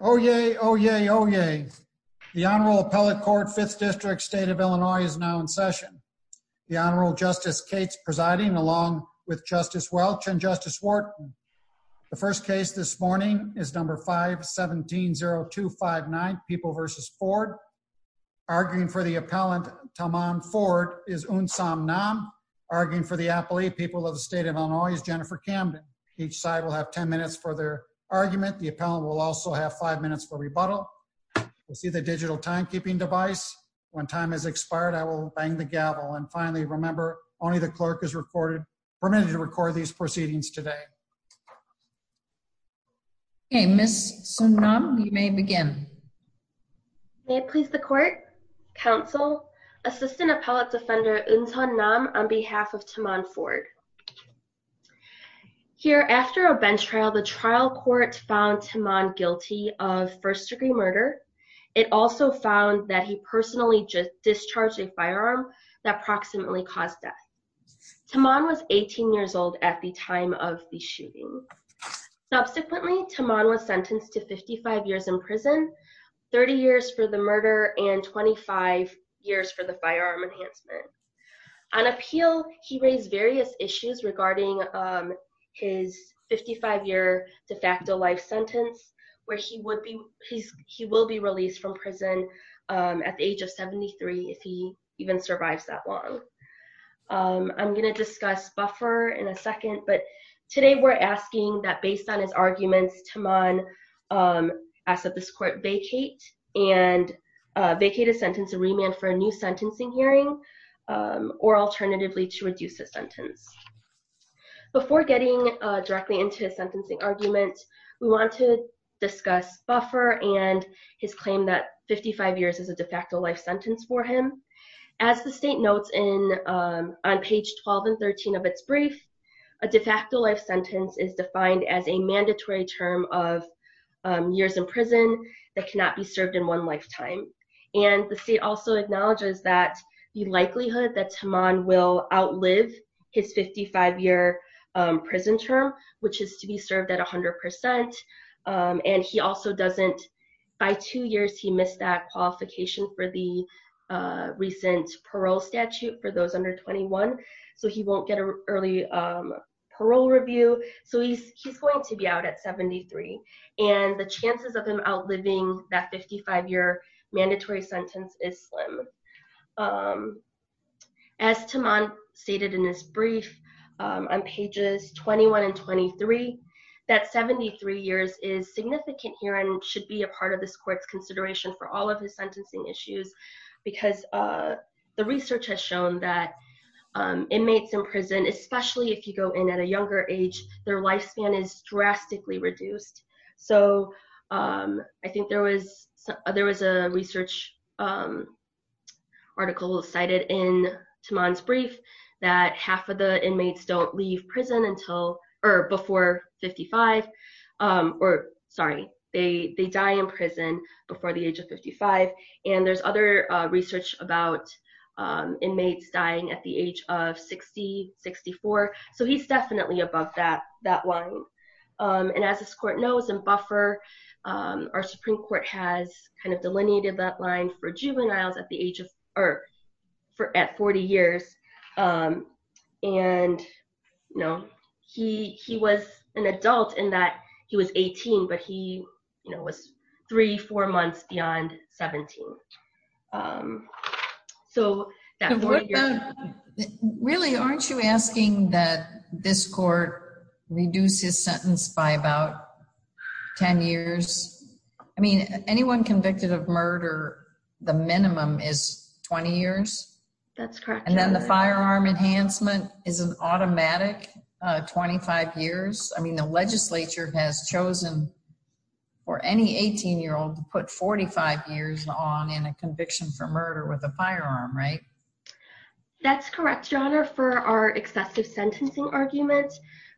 Oyez, oyez, oyez. The Honorable Appellate Court, 5th District, State of Illinois is now in session. The Honorable Justice Cates presiding along with Justice Welch and Justice Wharton. The first case this morning is number 5-170259, People v. Ford. Arguing for the appellant, Tomon Ford, is Unsam Nam. Arguing for the appellate, People of the State of Illinois, is Jennifer Camden. Each side will have 10 minutes for their argument. The appellant will also have 5 minutes for rebuttal. You'll see the digital timekeeping device. When time has expired, I will bang the gavel. And finally, remember, only the clerk is permitted to record these proceedings today. Okay, Ms. Unsam Nam, you may begin. May it please the Court, Counsel, Assistant Appellate Defender Unsam Nam on behalf of Tomon Ford. Here, after a bench trial, the trial court found Tomon guilty of first-degree murder. It also found that he personally discharged a firearm that proximately caused death. Tomon was 18 years old at the time of the shooting. Subsequently, Tomon was sentenced to 55 years in prison, 30 years for the murder, and 25 years for the firearm enhancement. On appeal, he raised various issues regarding his 55-year de facto life sentence, where he will be released from prison at the age of 73, if he even survives that long. I'm going to discuss buffer in a second, but today we're asking that, based on his arguments, Tomon ask that this Court vacate and vacate his sentence and remand for a new sentencing hearing, or alternatively to reduce his sentence. Before getting directly into his sentencing argument, we want to discuss buffer and his claim that 55 years is a de facto life sentence for him. As the state notes on page 12 and 13 of its brief, a de facto life sentence is defined as a mandatory term of years in prison that cannot be served in one lifetime. The state also acknowledges that the likelihood that Tomon will outlive his 55-year prison term, which is to be served at 100%, and he also doesn't, by two years he missed that qualification for the recent parole statute for those under 21, so he won't get an early parole review. So he's going to be out at 73, and the chances of him outliving that 55-year mandatory sentence is slim. As Tomon stated in his brief on pages 21 and 23, that 73 years is significant here and should be a part of this Court's consideration for all of his sentencing issues, because the research has shown that inmates in prison, especially if you go in at a younger age, their lifespan is drastically reduced. So I think there was a research article cited in Tomon's brief that half of the inmates don't leave prison before 55, or sorry, they die in prison before the age of 55, and there's other research about inmates dying at the age of 60, 64, so he's definitely above that line. And as this Court knows, in Buffer, our Supreme Court has kind of delineated that line for juveniles at 40 years, and he was an adult in that he was 18, but he was three, four months beyond 17. So, really, aren't you asking that this Court reduce his sentence by about 10 years? I mean, anyone convicted of murder, the minimum is 20 years. And then the firearm enhancement is an automatic 25 years. I mean, the legislature has chosen for any 18-year-old to put 45 years on in a conviction for murder with a firearm, right? That's correct, Your Honor, for our excessive sentencing argument,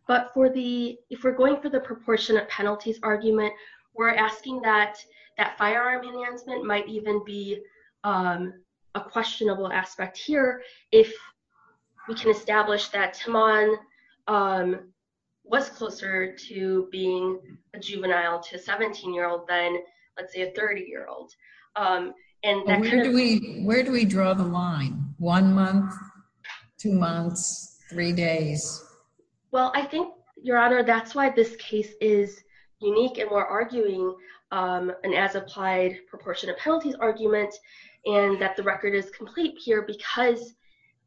but if we're going for the proportionate penalties argument, we're asking that that firearm enhancement might even be a questionable aspect here if we can establish that Tomon was closer to being a juvenile to a convict. Where do we draw the line? One month, two months, three days? Well, I think, Your Honor, that's why this case is unique, and we're arguing an as-applied proportionate penalties argument, and that the record is complete here because,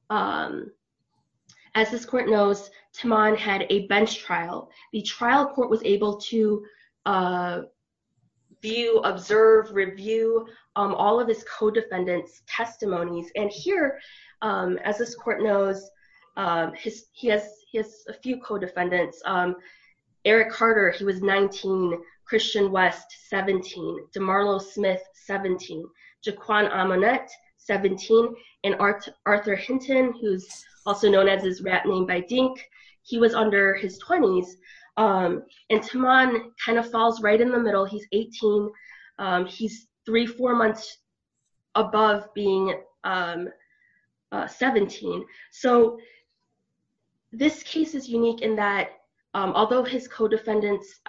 as this Court knows, Tomon had a bench trial. The trial court was able to view, observe, review all of his co-defendants' testimonies, and here, as this Court knows, he has a few co-defendants. Eric Carter, he was 19, Christian West, 17, DeMarlo Smith, 17, Jaquan Amonette, 17, and Arthur Hinton, who's also known as his rat name by Dink, he was under his 20s, and Tomon kind of falls right in the middle. He's 18. He's three, four months above being 17, so this case is unique in that, although his co-defendants,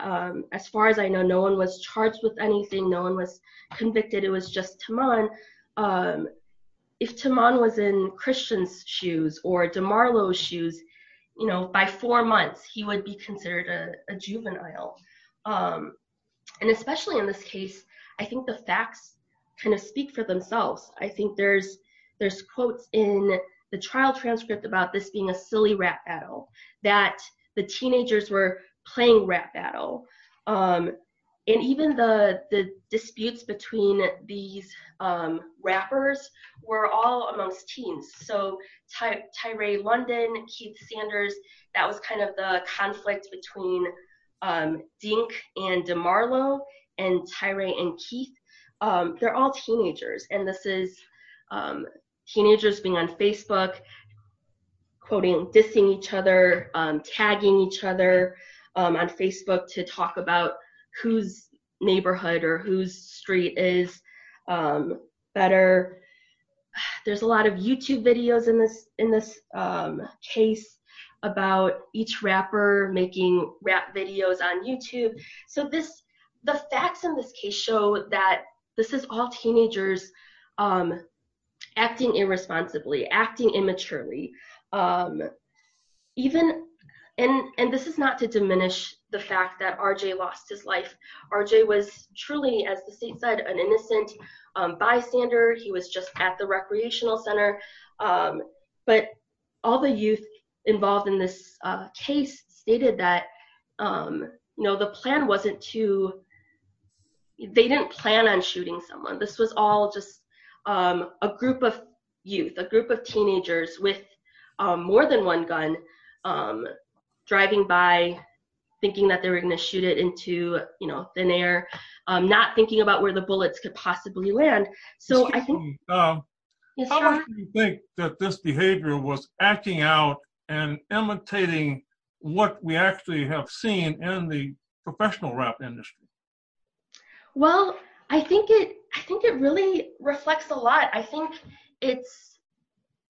as far as I know, no one was charged with anything. No one was convicted. It was just Tomon. If Tomon was in Christian's shoes or DeMarlo's shoes, you know, by four months, he would be considered a juvenile, and especially in this case, I think the facts kind of speak for themselves. I think there's quotes in the trial transcript about this being a silly rat battle, that the rappers were all amongst teens, so Tyrae London, Keith Sanders, that was kind of the conflict between Dink and DeMarlo and Tyrae and Keith. They're all teenagers, and this is teenagers being on Facebook, quoting, dissing each other, tagging each other on Facebook to talk about whose neighborhood or whose street is better. There's a lot of YouTube videos in this case about each rapper making rap videos on YouTube, so the facts in this case show that this is all teenagers acting irresponsibly, acting immaturely, and this is not to diminish the fact that R.J. lost his life. R.J. was truly, as the state said, an innocent bystander. He was just at the recreational center, but all the youth involved in this case stated that, you know, the plan wasn't to, they didn't plan on shooting someone. This was all just a group of youth, a group of teenagers with more than one gun, driving by, thinking that they were going to shoot it into, you know, thin air, not thinking about where the bullets could possibly land, so I think... Excuse me, how much do you think that this behavior was acting out and imitating what we actually have seen in the professional rap industry? Well, I think it really reflects a lot. I think it's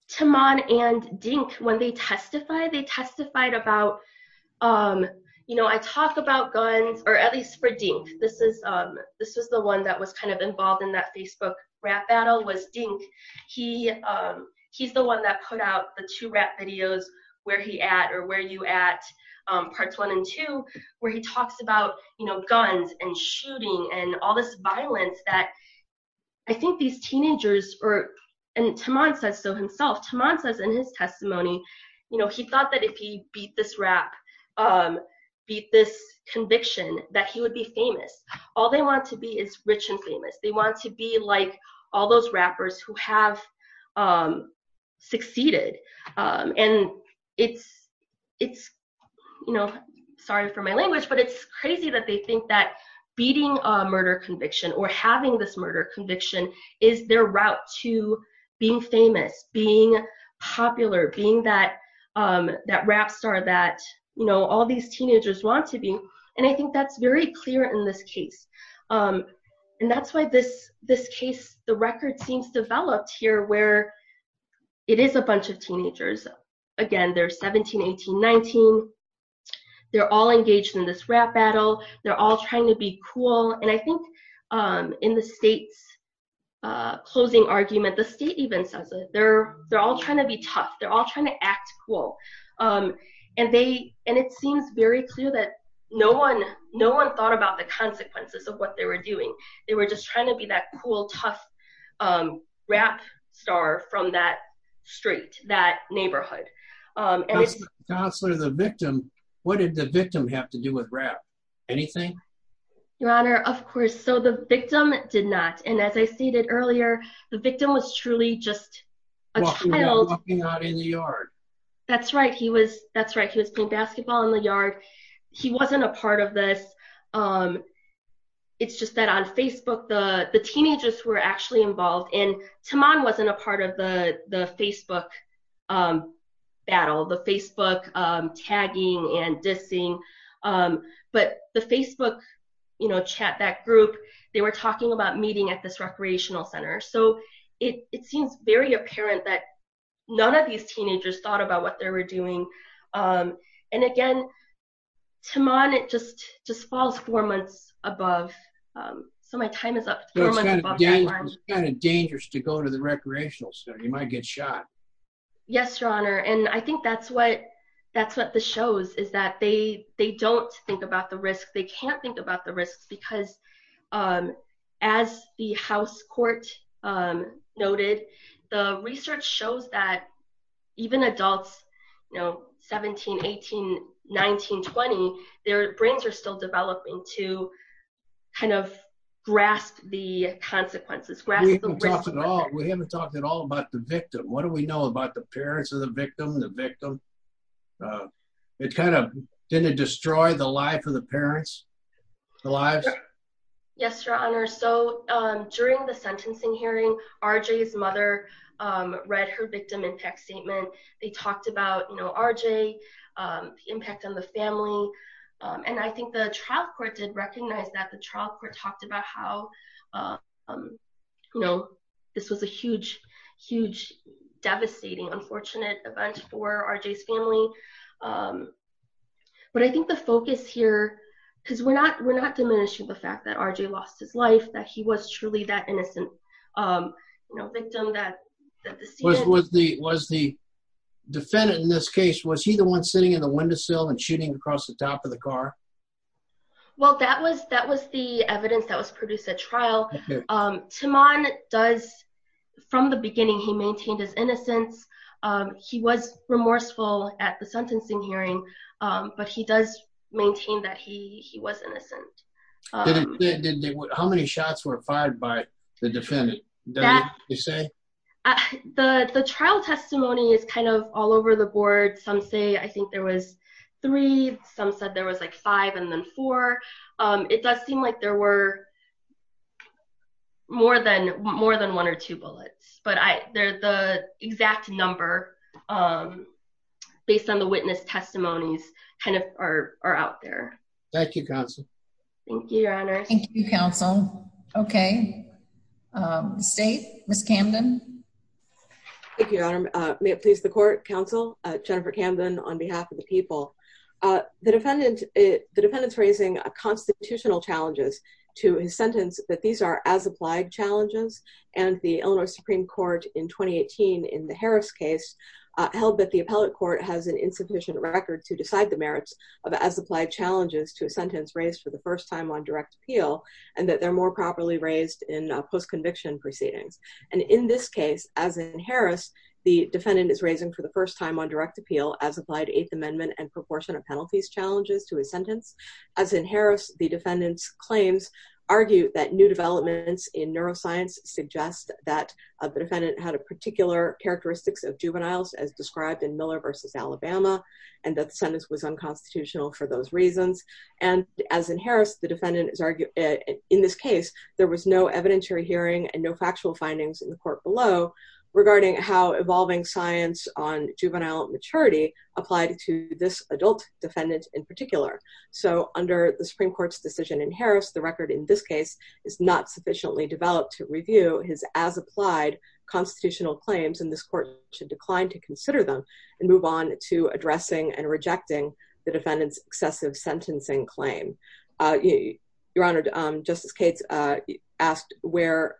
Timon and Dink, when they testified, they testified about, you know, I talk about guns, or at least for Dink, this is the one that was kind of involved in that Facebook rap battle, was Dink. He's the one that put out the two rap videos Where He At or Where You At, parts one and two, where he talks about, you know, guns and shooting and all this violence that I think these teenagers are, and Timon says so himself, Timon says in his testimony, you know, he thought that if he beat this rap, beat this conviction, that he would be famous. All they want to be is rich and famous. They want to be like all those rappers who have succeeded, and it's, you know, sorry for my language, but it's crazy that they think that beating a murder conviction or having this murder conviction is their route to being famous, being popular, being that rap star that, you know, all these teenagers want to be, and I think that's very clear in this case, and that's why this case, the record seems developed here where it is a bunch of teenagers. Again, they're 17, 18, 19. They're all engaged in this rap battle. They're all trying to be cool, and I think in the state's closing argument, the state even says they're all trying to be tough. They're all trying to act cool, and they, and it seems very clear that no one, no one thought about the consequences of what they were doing. They were just trying to be that cool, tough rap star from that street, that neighborhood. Counselor, the victim, what did the victim have to do with rap? Anything? Your Honor, of course, so the victim did not, and as I stated earlier, the victim was truly just a child. Walking out in the yard. That's right. He was, that's right. He was playing basketball in the yard. He wasn't a part of this. It's just that on Facebook, the teenagers were actually involved, and Taman wasn't a part of the Facebook battle, the Facebook tagging and dissing, but the Facebook, you know, chat back group, they were talking about meeting at this recreational center, so it seems very apparent that none of these teenagers thought about what they were doing, and again, Taman, it just, just falls four months above, so my time is up. It's kind of dangerous to go to the recreational center. You might get shot. Yes, Your Honor, and I think that's what, that's what this shows, is that they, they don't think about the risk. They can't think about the risks, because as the House Court noted, the research shows that even adults, you know, 17, 18, 19, 20, their brains are still developing to kind of grasp the consequences. We haven't talked at all, we haven't talked at all about the victim. What do we know about the parents of the victim, the victim? It kind of, didn't it destroy the read her victim impact statement. They talked about, you know, RJ, the impact on the family, and I think the trial court did recognize that the trial court talked about how, you know, this was a huge, huge, devastating, unfortunate event for RJ's family, but I think the focus here, because we're not, we're not diminishing the fact that RJ lost his that he was truly that innocent, you know, victim, that was the, was the defendant in this case, was he the one sitting in the windowsill and shooting across the top of the car? Well, that was, that was the evidence that was produced at trial. Timon does, from the beginning, he maintained his innocence. He was remorseful at the sentencing hearing, but he does maintain that he was innocent. How many shots were fired by the defendant? The trial testimony is kind of all over the board. Some say, I think there was three, some said there was like five and then four. It does seem like there were more than, more than one or two bullets, but I, the exact number, um, based on the witness testimonies kind of are out there. Thank you, counsel. Thank you, your honor. Thank you, counsel. Okay. State, Ms. Camden. Thank you, your honor. May it please the court, counsel, Jennifer Camden on behalf of the people. The defendant, the defendant's raising constitutional challenges to his sentence that these are as applied challenges and the held that the appellate court has an insufficient record to decide the merits of as applied challenges to a sentence raised for the first time on direct appeal and that they're more properly raised in a post-conviction proceedings. And in this case, as in Harris, the defendant is raising for the first time on direct appeal as applied eighth amendment and proportion of penalties challenges to his sentence. As in Harris, the defendant's claims argue that new developments in neuroscience suggest that the defendant had a particular characteristics of described in Miller versus Alabama and that sentence was unconstitutional for those reasons. And as in Harris, the defendant is arguing in this case, there was no evidentiary hearing and no factual findings in the court below regarding how evolving science on juvenile maturity applied to this adult defendant in particular. So under the Supreme court's decision in Harris, the record in this case is not sufficiently developed to review his as applied constitutional claims. And this court should decline to consider them and move on to addressing and rejecting the defendant's excessive sentencing claim. Your Honor, Justice Cates asked where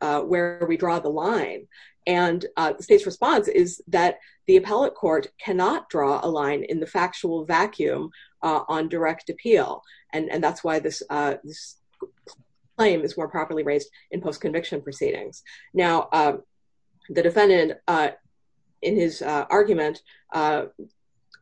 we draw the line and the state's response is that the appellate court cannot draw a line in the factual vacuum on direct appeal. And that's why this claim is more properly raised in post-conviction proceedings. Now the defendant in his argument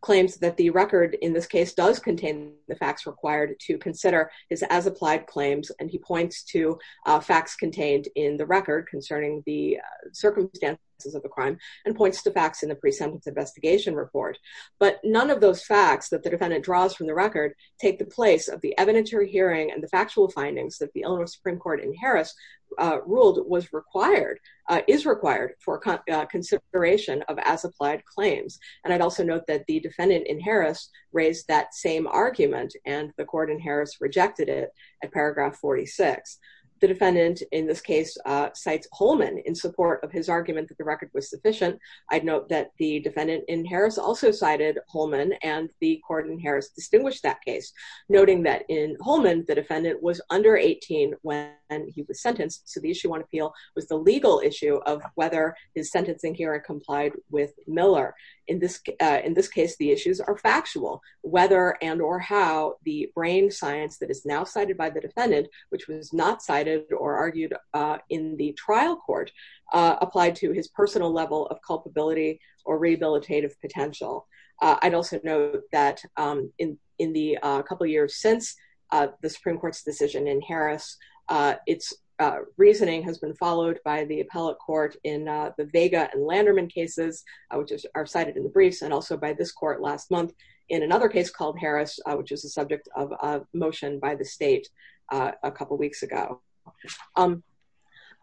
claims that the record in this case does contain the facts required to consider his as applied claims. And he points to facts contained in the record concerning the circumstances of the crime and points to facts in the pre-sentence investigation report. But none of those facts that the defendant draws from the record, take the place of the evidentiary hearing and the factual findings that the owner of Supreme court in Harris ruled was required, is required for consideration of as applied claims. And I'd also note that the defendant in Harris raised that same argument and the court in Harris rejected it at paragraph 46. The defendant in this case cites Holman in support of his argument that the record was sufficient. I'd note that the defendant in Harris also cited Holman and the court in Harris distinguished that in Holman, the defendant was under 18 when he was sentenced. So the issue on appeal was the legal issue of whether his sentencing hearing complied with Miller. In this case, the issues are factual, whether and or how the brain science that is now cited by the defendant, which was not cited or argued in the trial court applied to his personal level of culpability or rehabilitative potential. I'd also note that in the couple of years since the Supreme court's decision in Harris, its reasoning has been followed by the appellate court in the Vega and Landerman cases, which are cited in the briefs and also by this court last month in another case called Harris, which was the subject of a motion by the state a couple of weeks ago. I'm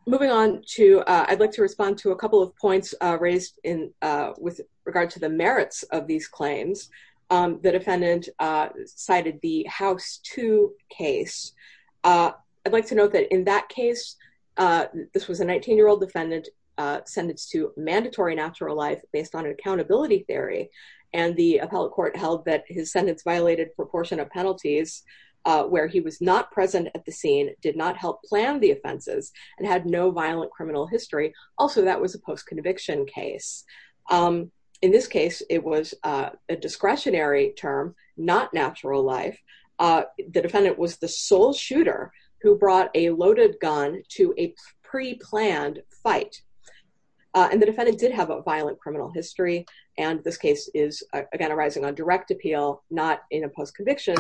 moving on to, I'd like to respond to a couple of points raised in with regard to the merits of these claims. The defendant cited the house two case. I'd like to note that in that case, this was a 19 year old defendant sentenced to mandatory natural life based on accountability theory. And the appellate court held that his sentence violated proportion of penalties where he was not present at the scene, did not help plan the offenses and had no violent criminal history. Also, that was a post-conviction case. In this case, it was a discretionary term, not natural life. The defendant was the sole shooter who brought a loaded gun to a pre-planned fight. And the defendant did have a violent criminal history. And this case is again, arising on direct appeal, not in a post-conviction.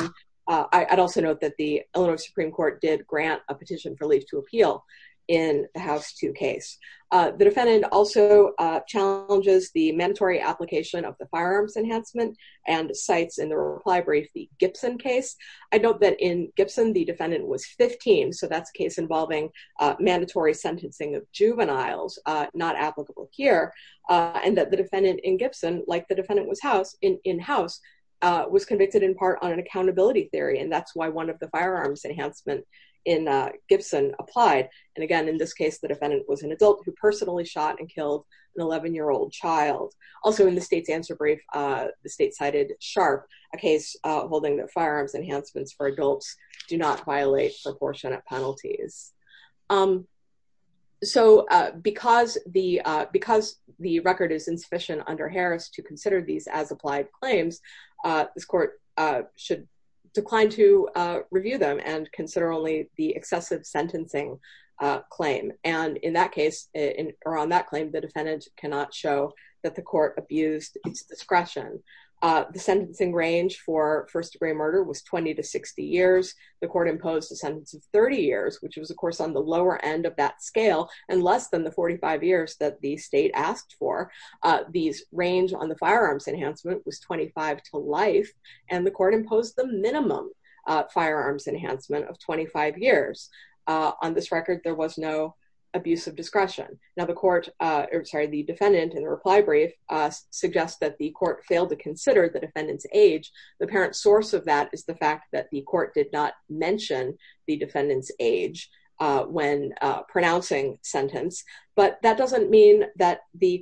I'd also note that the Illinois Supreme Court did grant a petition for leave to appeal in the house two case. The defendant also challenges the mandatory application of the firearms enhancement and cites in the reply brief, the Gibson case. I note that in Gibson, the defendant was 15. So that's a case involving mandatory sentencing of juveniles not applicable here. And that the Gibson, like the defendant was in house, was convicted in part on an accountability theory. And that's why one of the firearms enhancement in Gibson applied. And again, in this case, the defendant was an adult who personally shot and killed an 11-year-old child. Also in the state's answer brief, the state cited Sharp, a case holding that firearms enhancements for adults do not violate proportionate penalties. So because the record is insufficient under Harris to consider these as applied claims, this court should decline to review them and consider only the excessive sentencing claim. And in that case, or on that claim, the defendant cannot show that court abused its discretion. The sentencing range for first degree murder was 20 to 60 years. The court imposed a sentence of 30 years, which was of course on the lower end of that scale, and less than the 45 years that the state asked for. These range on the firearms enhancement was 25 to life. And the court imposed the minimum firearms enhancement of 25 years. On this record, there was no abuse of discretion. Now the defendant in the reply brief suggests that the court failed to consider the defendant's age. The apparent source of that is the fact that the court did not mention the defendant's age when pronouncing sentence. But that doesn't mean that this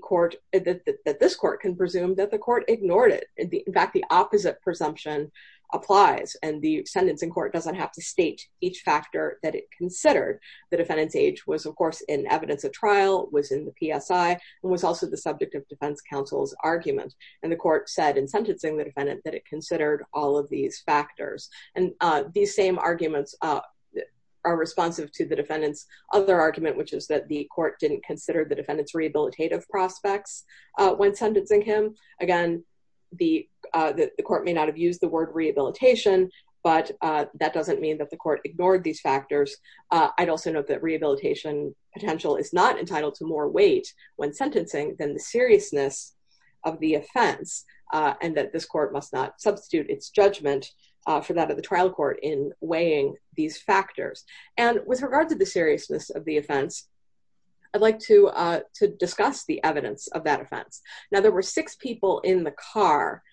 court can presume that the court ignored it. In fact, the opposite presumption applies, and the sentencing court doesn't have to state each factor that it considered. The defendant's age was of course in evidence of trial, was in the PSI, and was also the subject of defense counsel's argument. And the court said in sentencing the defendant that it considered all of these factors. And these same arguments are responsive to the defendant's other argument, which is that the court didn't consider the defendant's rehabilitative prospects when sentencing him. Again, the court may not have used the word rehabilitation, but that doesn't mean that the court ignored these factors. I'd also note that rehabilitation potential is not entitled to more weight when sentencing than the seriousness of the offense, and that this court must not substitute its judgment for that of the trial court in weighing these factors. And with regard to the seriousness of the offense, I'd like to discuss the evidence of that offense. Now there were six people in the car,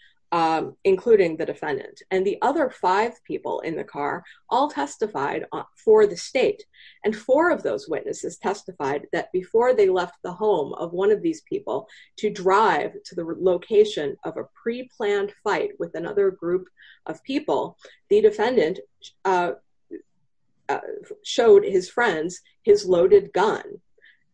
including the defendant, and the other five people in the car all testified for the state. And four of those witnesses testified that before they left the home of one of these people to drive to the location of a pre-planned fight with another group of people, the defendant showed his friends his loaded gun.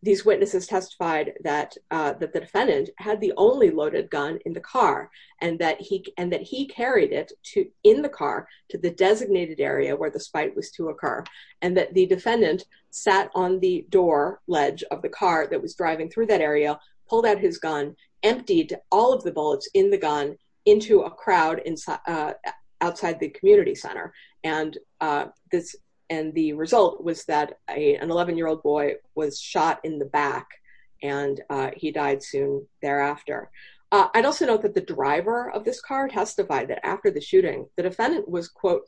These witnesses testified that the defendant had the only loaded gun in the car, and that he carried it in the car to the designated area where the fight was to occur. And that the defendant sat on the door ledge of the car that was driving through that area, pulled out his gun, emptied all of the bullets in the gun into a crowd outside the community center. And the result was that an 11-year-old boy was shot in the back, and he died soon thereafter. I'd also note that the driver of this car testified that after the shooting, the defendant was, quote,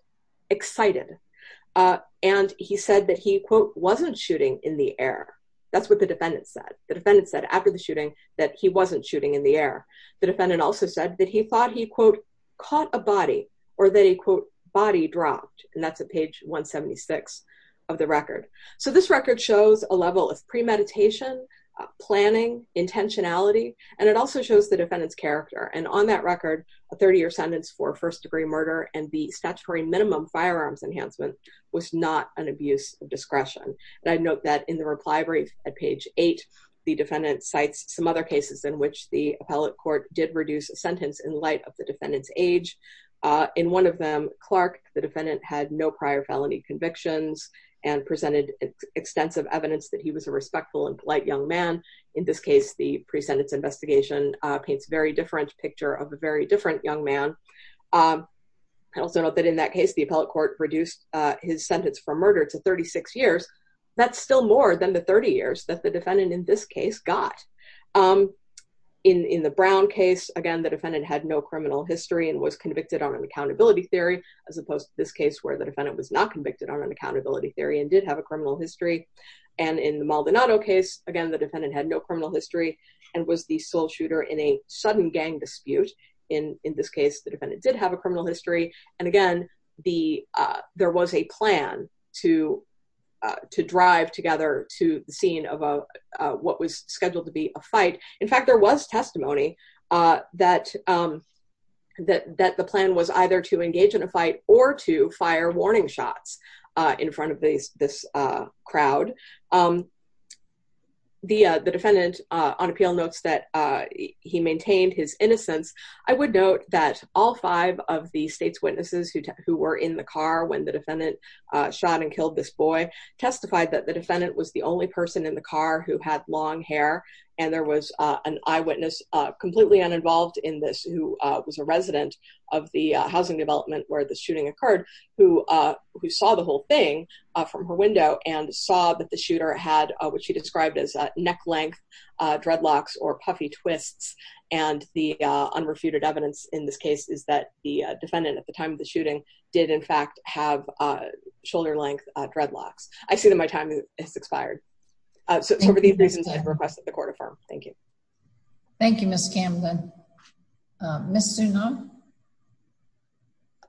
excited. And he said that he, quote, wasn't shooting in the air. That's what the defendant said. The defendant said after the he, quote, caught a body, or that he, quote, body dropped. And that's at page 176 of the record. So this record shows a level of premeditation, planning, intentionality, and it also shows the defendant's character. And on that record, a 30-year sentence for first-degree murder and the statutory minimum firearms enhancement was not an abuse of discretion. And I'd note that in the reply brief at page eight, the defendant cites some other cases in which the appellate court did reduce a sentence in light of the defendant's age. In one of them, Clark, the defendant had no prior felony convictions and presented extensive evidence that he was a respectful and polite young man. In this case, the pre-sentence investigation paints a very different picture of a very different young man. I'd also note that in that case, the appellate court reduced his sentence for murder to 36 years. That's still more than the 30 years that defendant, in this case, got. In the Brown case, again, the defendant had no criminal history and was convicted on an accountability theory, as opposed to this case where the defendant was not convicted on an accountability theory and did have a criminal history. And in the Maldonado case, again, the defendant had no criminal history and was the sole shooter in a sudden gang dispute. In this case, the defendant did have a criminal history. And again, there was a plan to drive together to the scene of what was scheduled to be a fight. In fact, there was testimony that the plan was either to engage in a fight or to fire warning shots in front of this crowd. The defendant on appeal notes that he maintained his innocence. I would note that all five of the state's witnesses who were in the car when the defendant shot and killed this boy testified that the defendant was the only person in the car who had long hair and there was an eyewitness, completely uninvolved in this, who was a resident of the housing development where the shooting occurred, who saw the whole thing from her window and saw that the shooter had what she described as neck-length dreadlocks or puffy twists. And the unrefuted evidence in this case is that the defendant, at the time of the shooting, did in fact have shoulder-length dreadlocks. I see that my time has expired. So for these reasons, I've requested the court affirm. Thank you. Thank you, Ms. Camden. Ms. Zunon?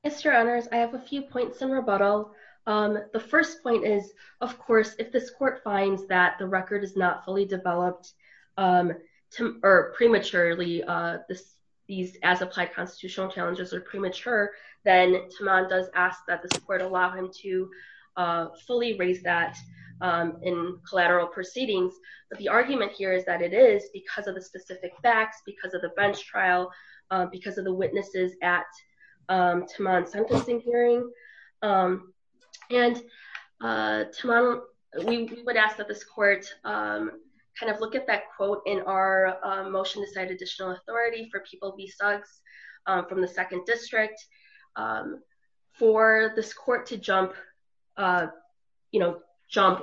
Mr. Honors, I have a few points in rebuttal. The first point is, of course, if this court finds that the record is not fully developed prematurely, these as-applied constitutional challenges are premature, then Taman does ask that this court allow him to fully raise that in collateral proceedings. But the argument here is that it is because of the specific facts, because of the bench trial, because of the witnesses at Taman's sentencing hearing. And Taman, we would ask that this court kind of look at that quote in our motion to cite additional authority for people v. Suggs from the 2nd District. For this court to jump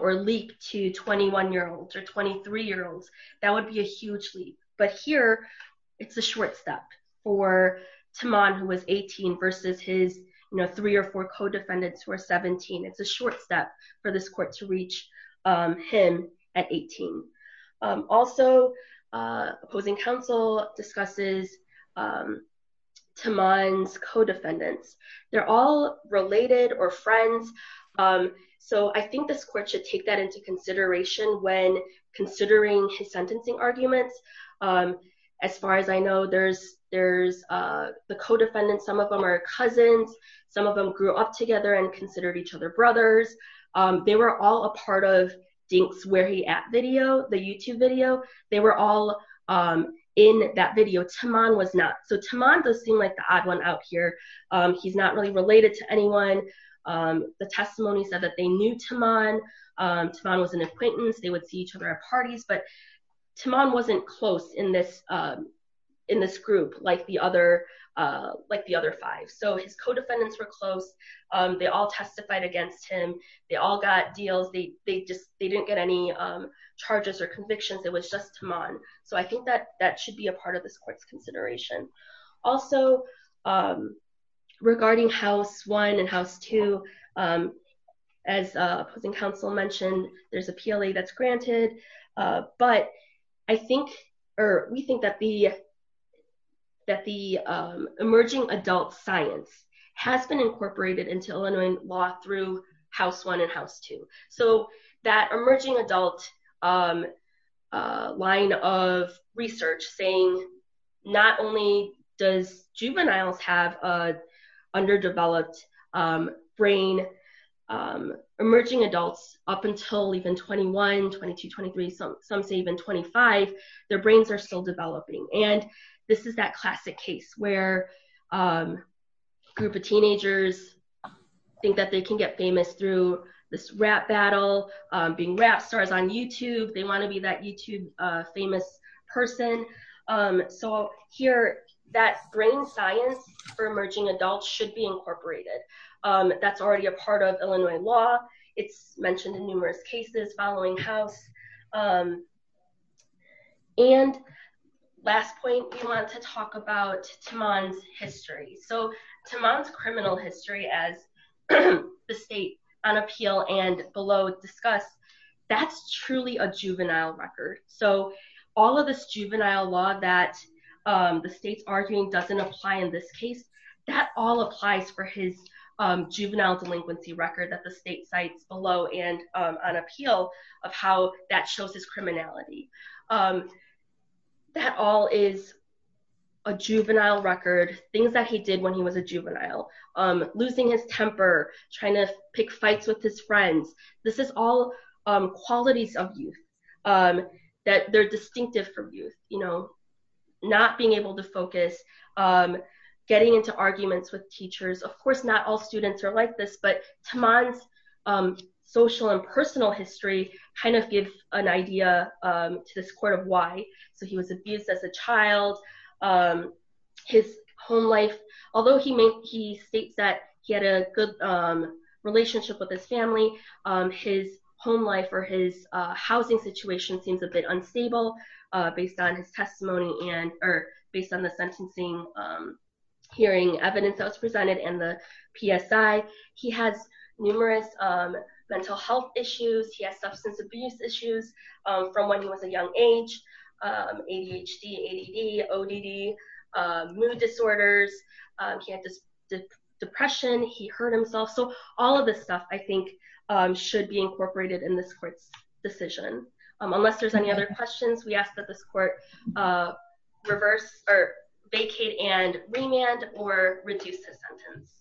or leap to 21-year-olds or 23-year-olds, that would be a huge leap. But here, it's a short step for Taman, who was 18, versus his three or four co-defendants who were 17. It's a short step for this court to reach him at 18. Also, opposing counsel discusses Taman's co-defendants. They're all related or friends, so I think this court should take that into consideration when considering his sentencing arguments. As far as I know, there's the co-defendants. Some of them are cousins. Some of them grew up together and considered each other brothers. They were all a part of the YouTube video. They were all in that video. Taman does seem like the odd one out here. He's not really related to anyone. The testimony said that they knew Taman. Taman was an acquaintance. They would see each other at parties, but Taman wasn't close in this group like the other five. So his co-defendants were close. They all testified against him. They all got charges or convictions. It was just Taman. So I think that should be a part of this court's consideration. Also, regarding House 1 and House 2, as opposing counsel mentioned, there's a PLA that's granted, but we think that the emerging adult science has been incorporated into Illinois law through House 1 and House 2. So that emerging adult line of research saying not only does juveniles have an underdeveloped brain, emerging adults up until even 21, 22, 23, some say even 25, their brains are still developing, and this is that classic case where a group of teenagers think that they can get famous through this rap battle, being rap stars on YouTube. They want to be that YouTube famous person. So here that brain science for emerging adults should be incorporated. That's already a part of Illinois law. It's mentioned in numerous cases following House. And last point we want to talk about Taman's history. So Taman's criminal history as the state on appeal and below discussed, that's truly a juvenile record. So all of this juvenile law that the state's arguing doesn't apply in this case, that all applies for his juvenile delinquency record that the state that he did when he was a juvenile, losing his temper, trying to pick fights with his friends. This is all qualities of youth that they're distinctive from youth, you know, not being able to focus, getting into arguments with teachers. Of course, not all students are like this, but Taman's social and personal history kind of gives an idea to this court of why. So he was abused as a child. His home life, although he states that he had a good relationship with his family, his home life or his housing situation seems a bit unstable based on his testimony and, or based on the sentencing hearing evidence that was presented and the PSI. He has numerous mental health issues. He has substance abuse issues from when he was a ADHD, ADD, ODD, mood disorders. He had this depression. He hurt himself. So all of this stuff I think should be incorporated in this court's decision. Unless there's any other questions, we ask that this court reverse or vacate and remand or reduce his sentence.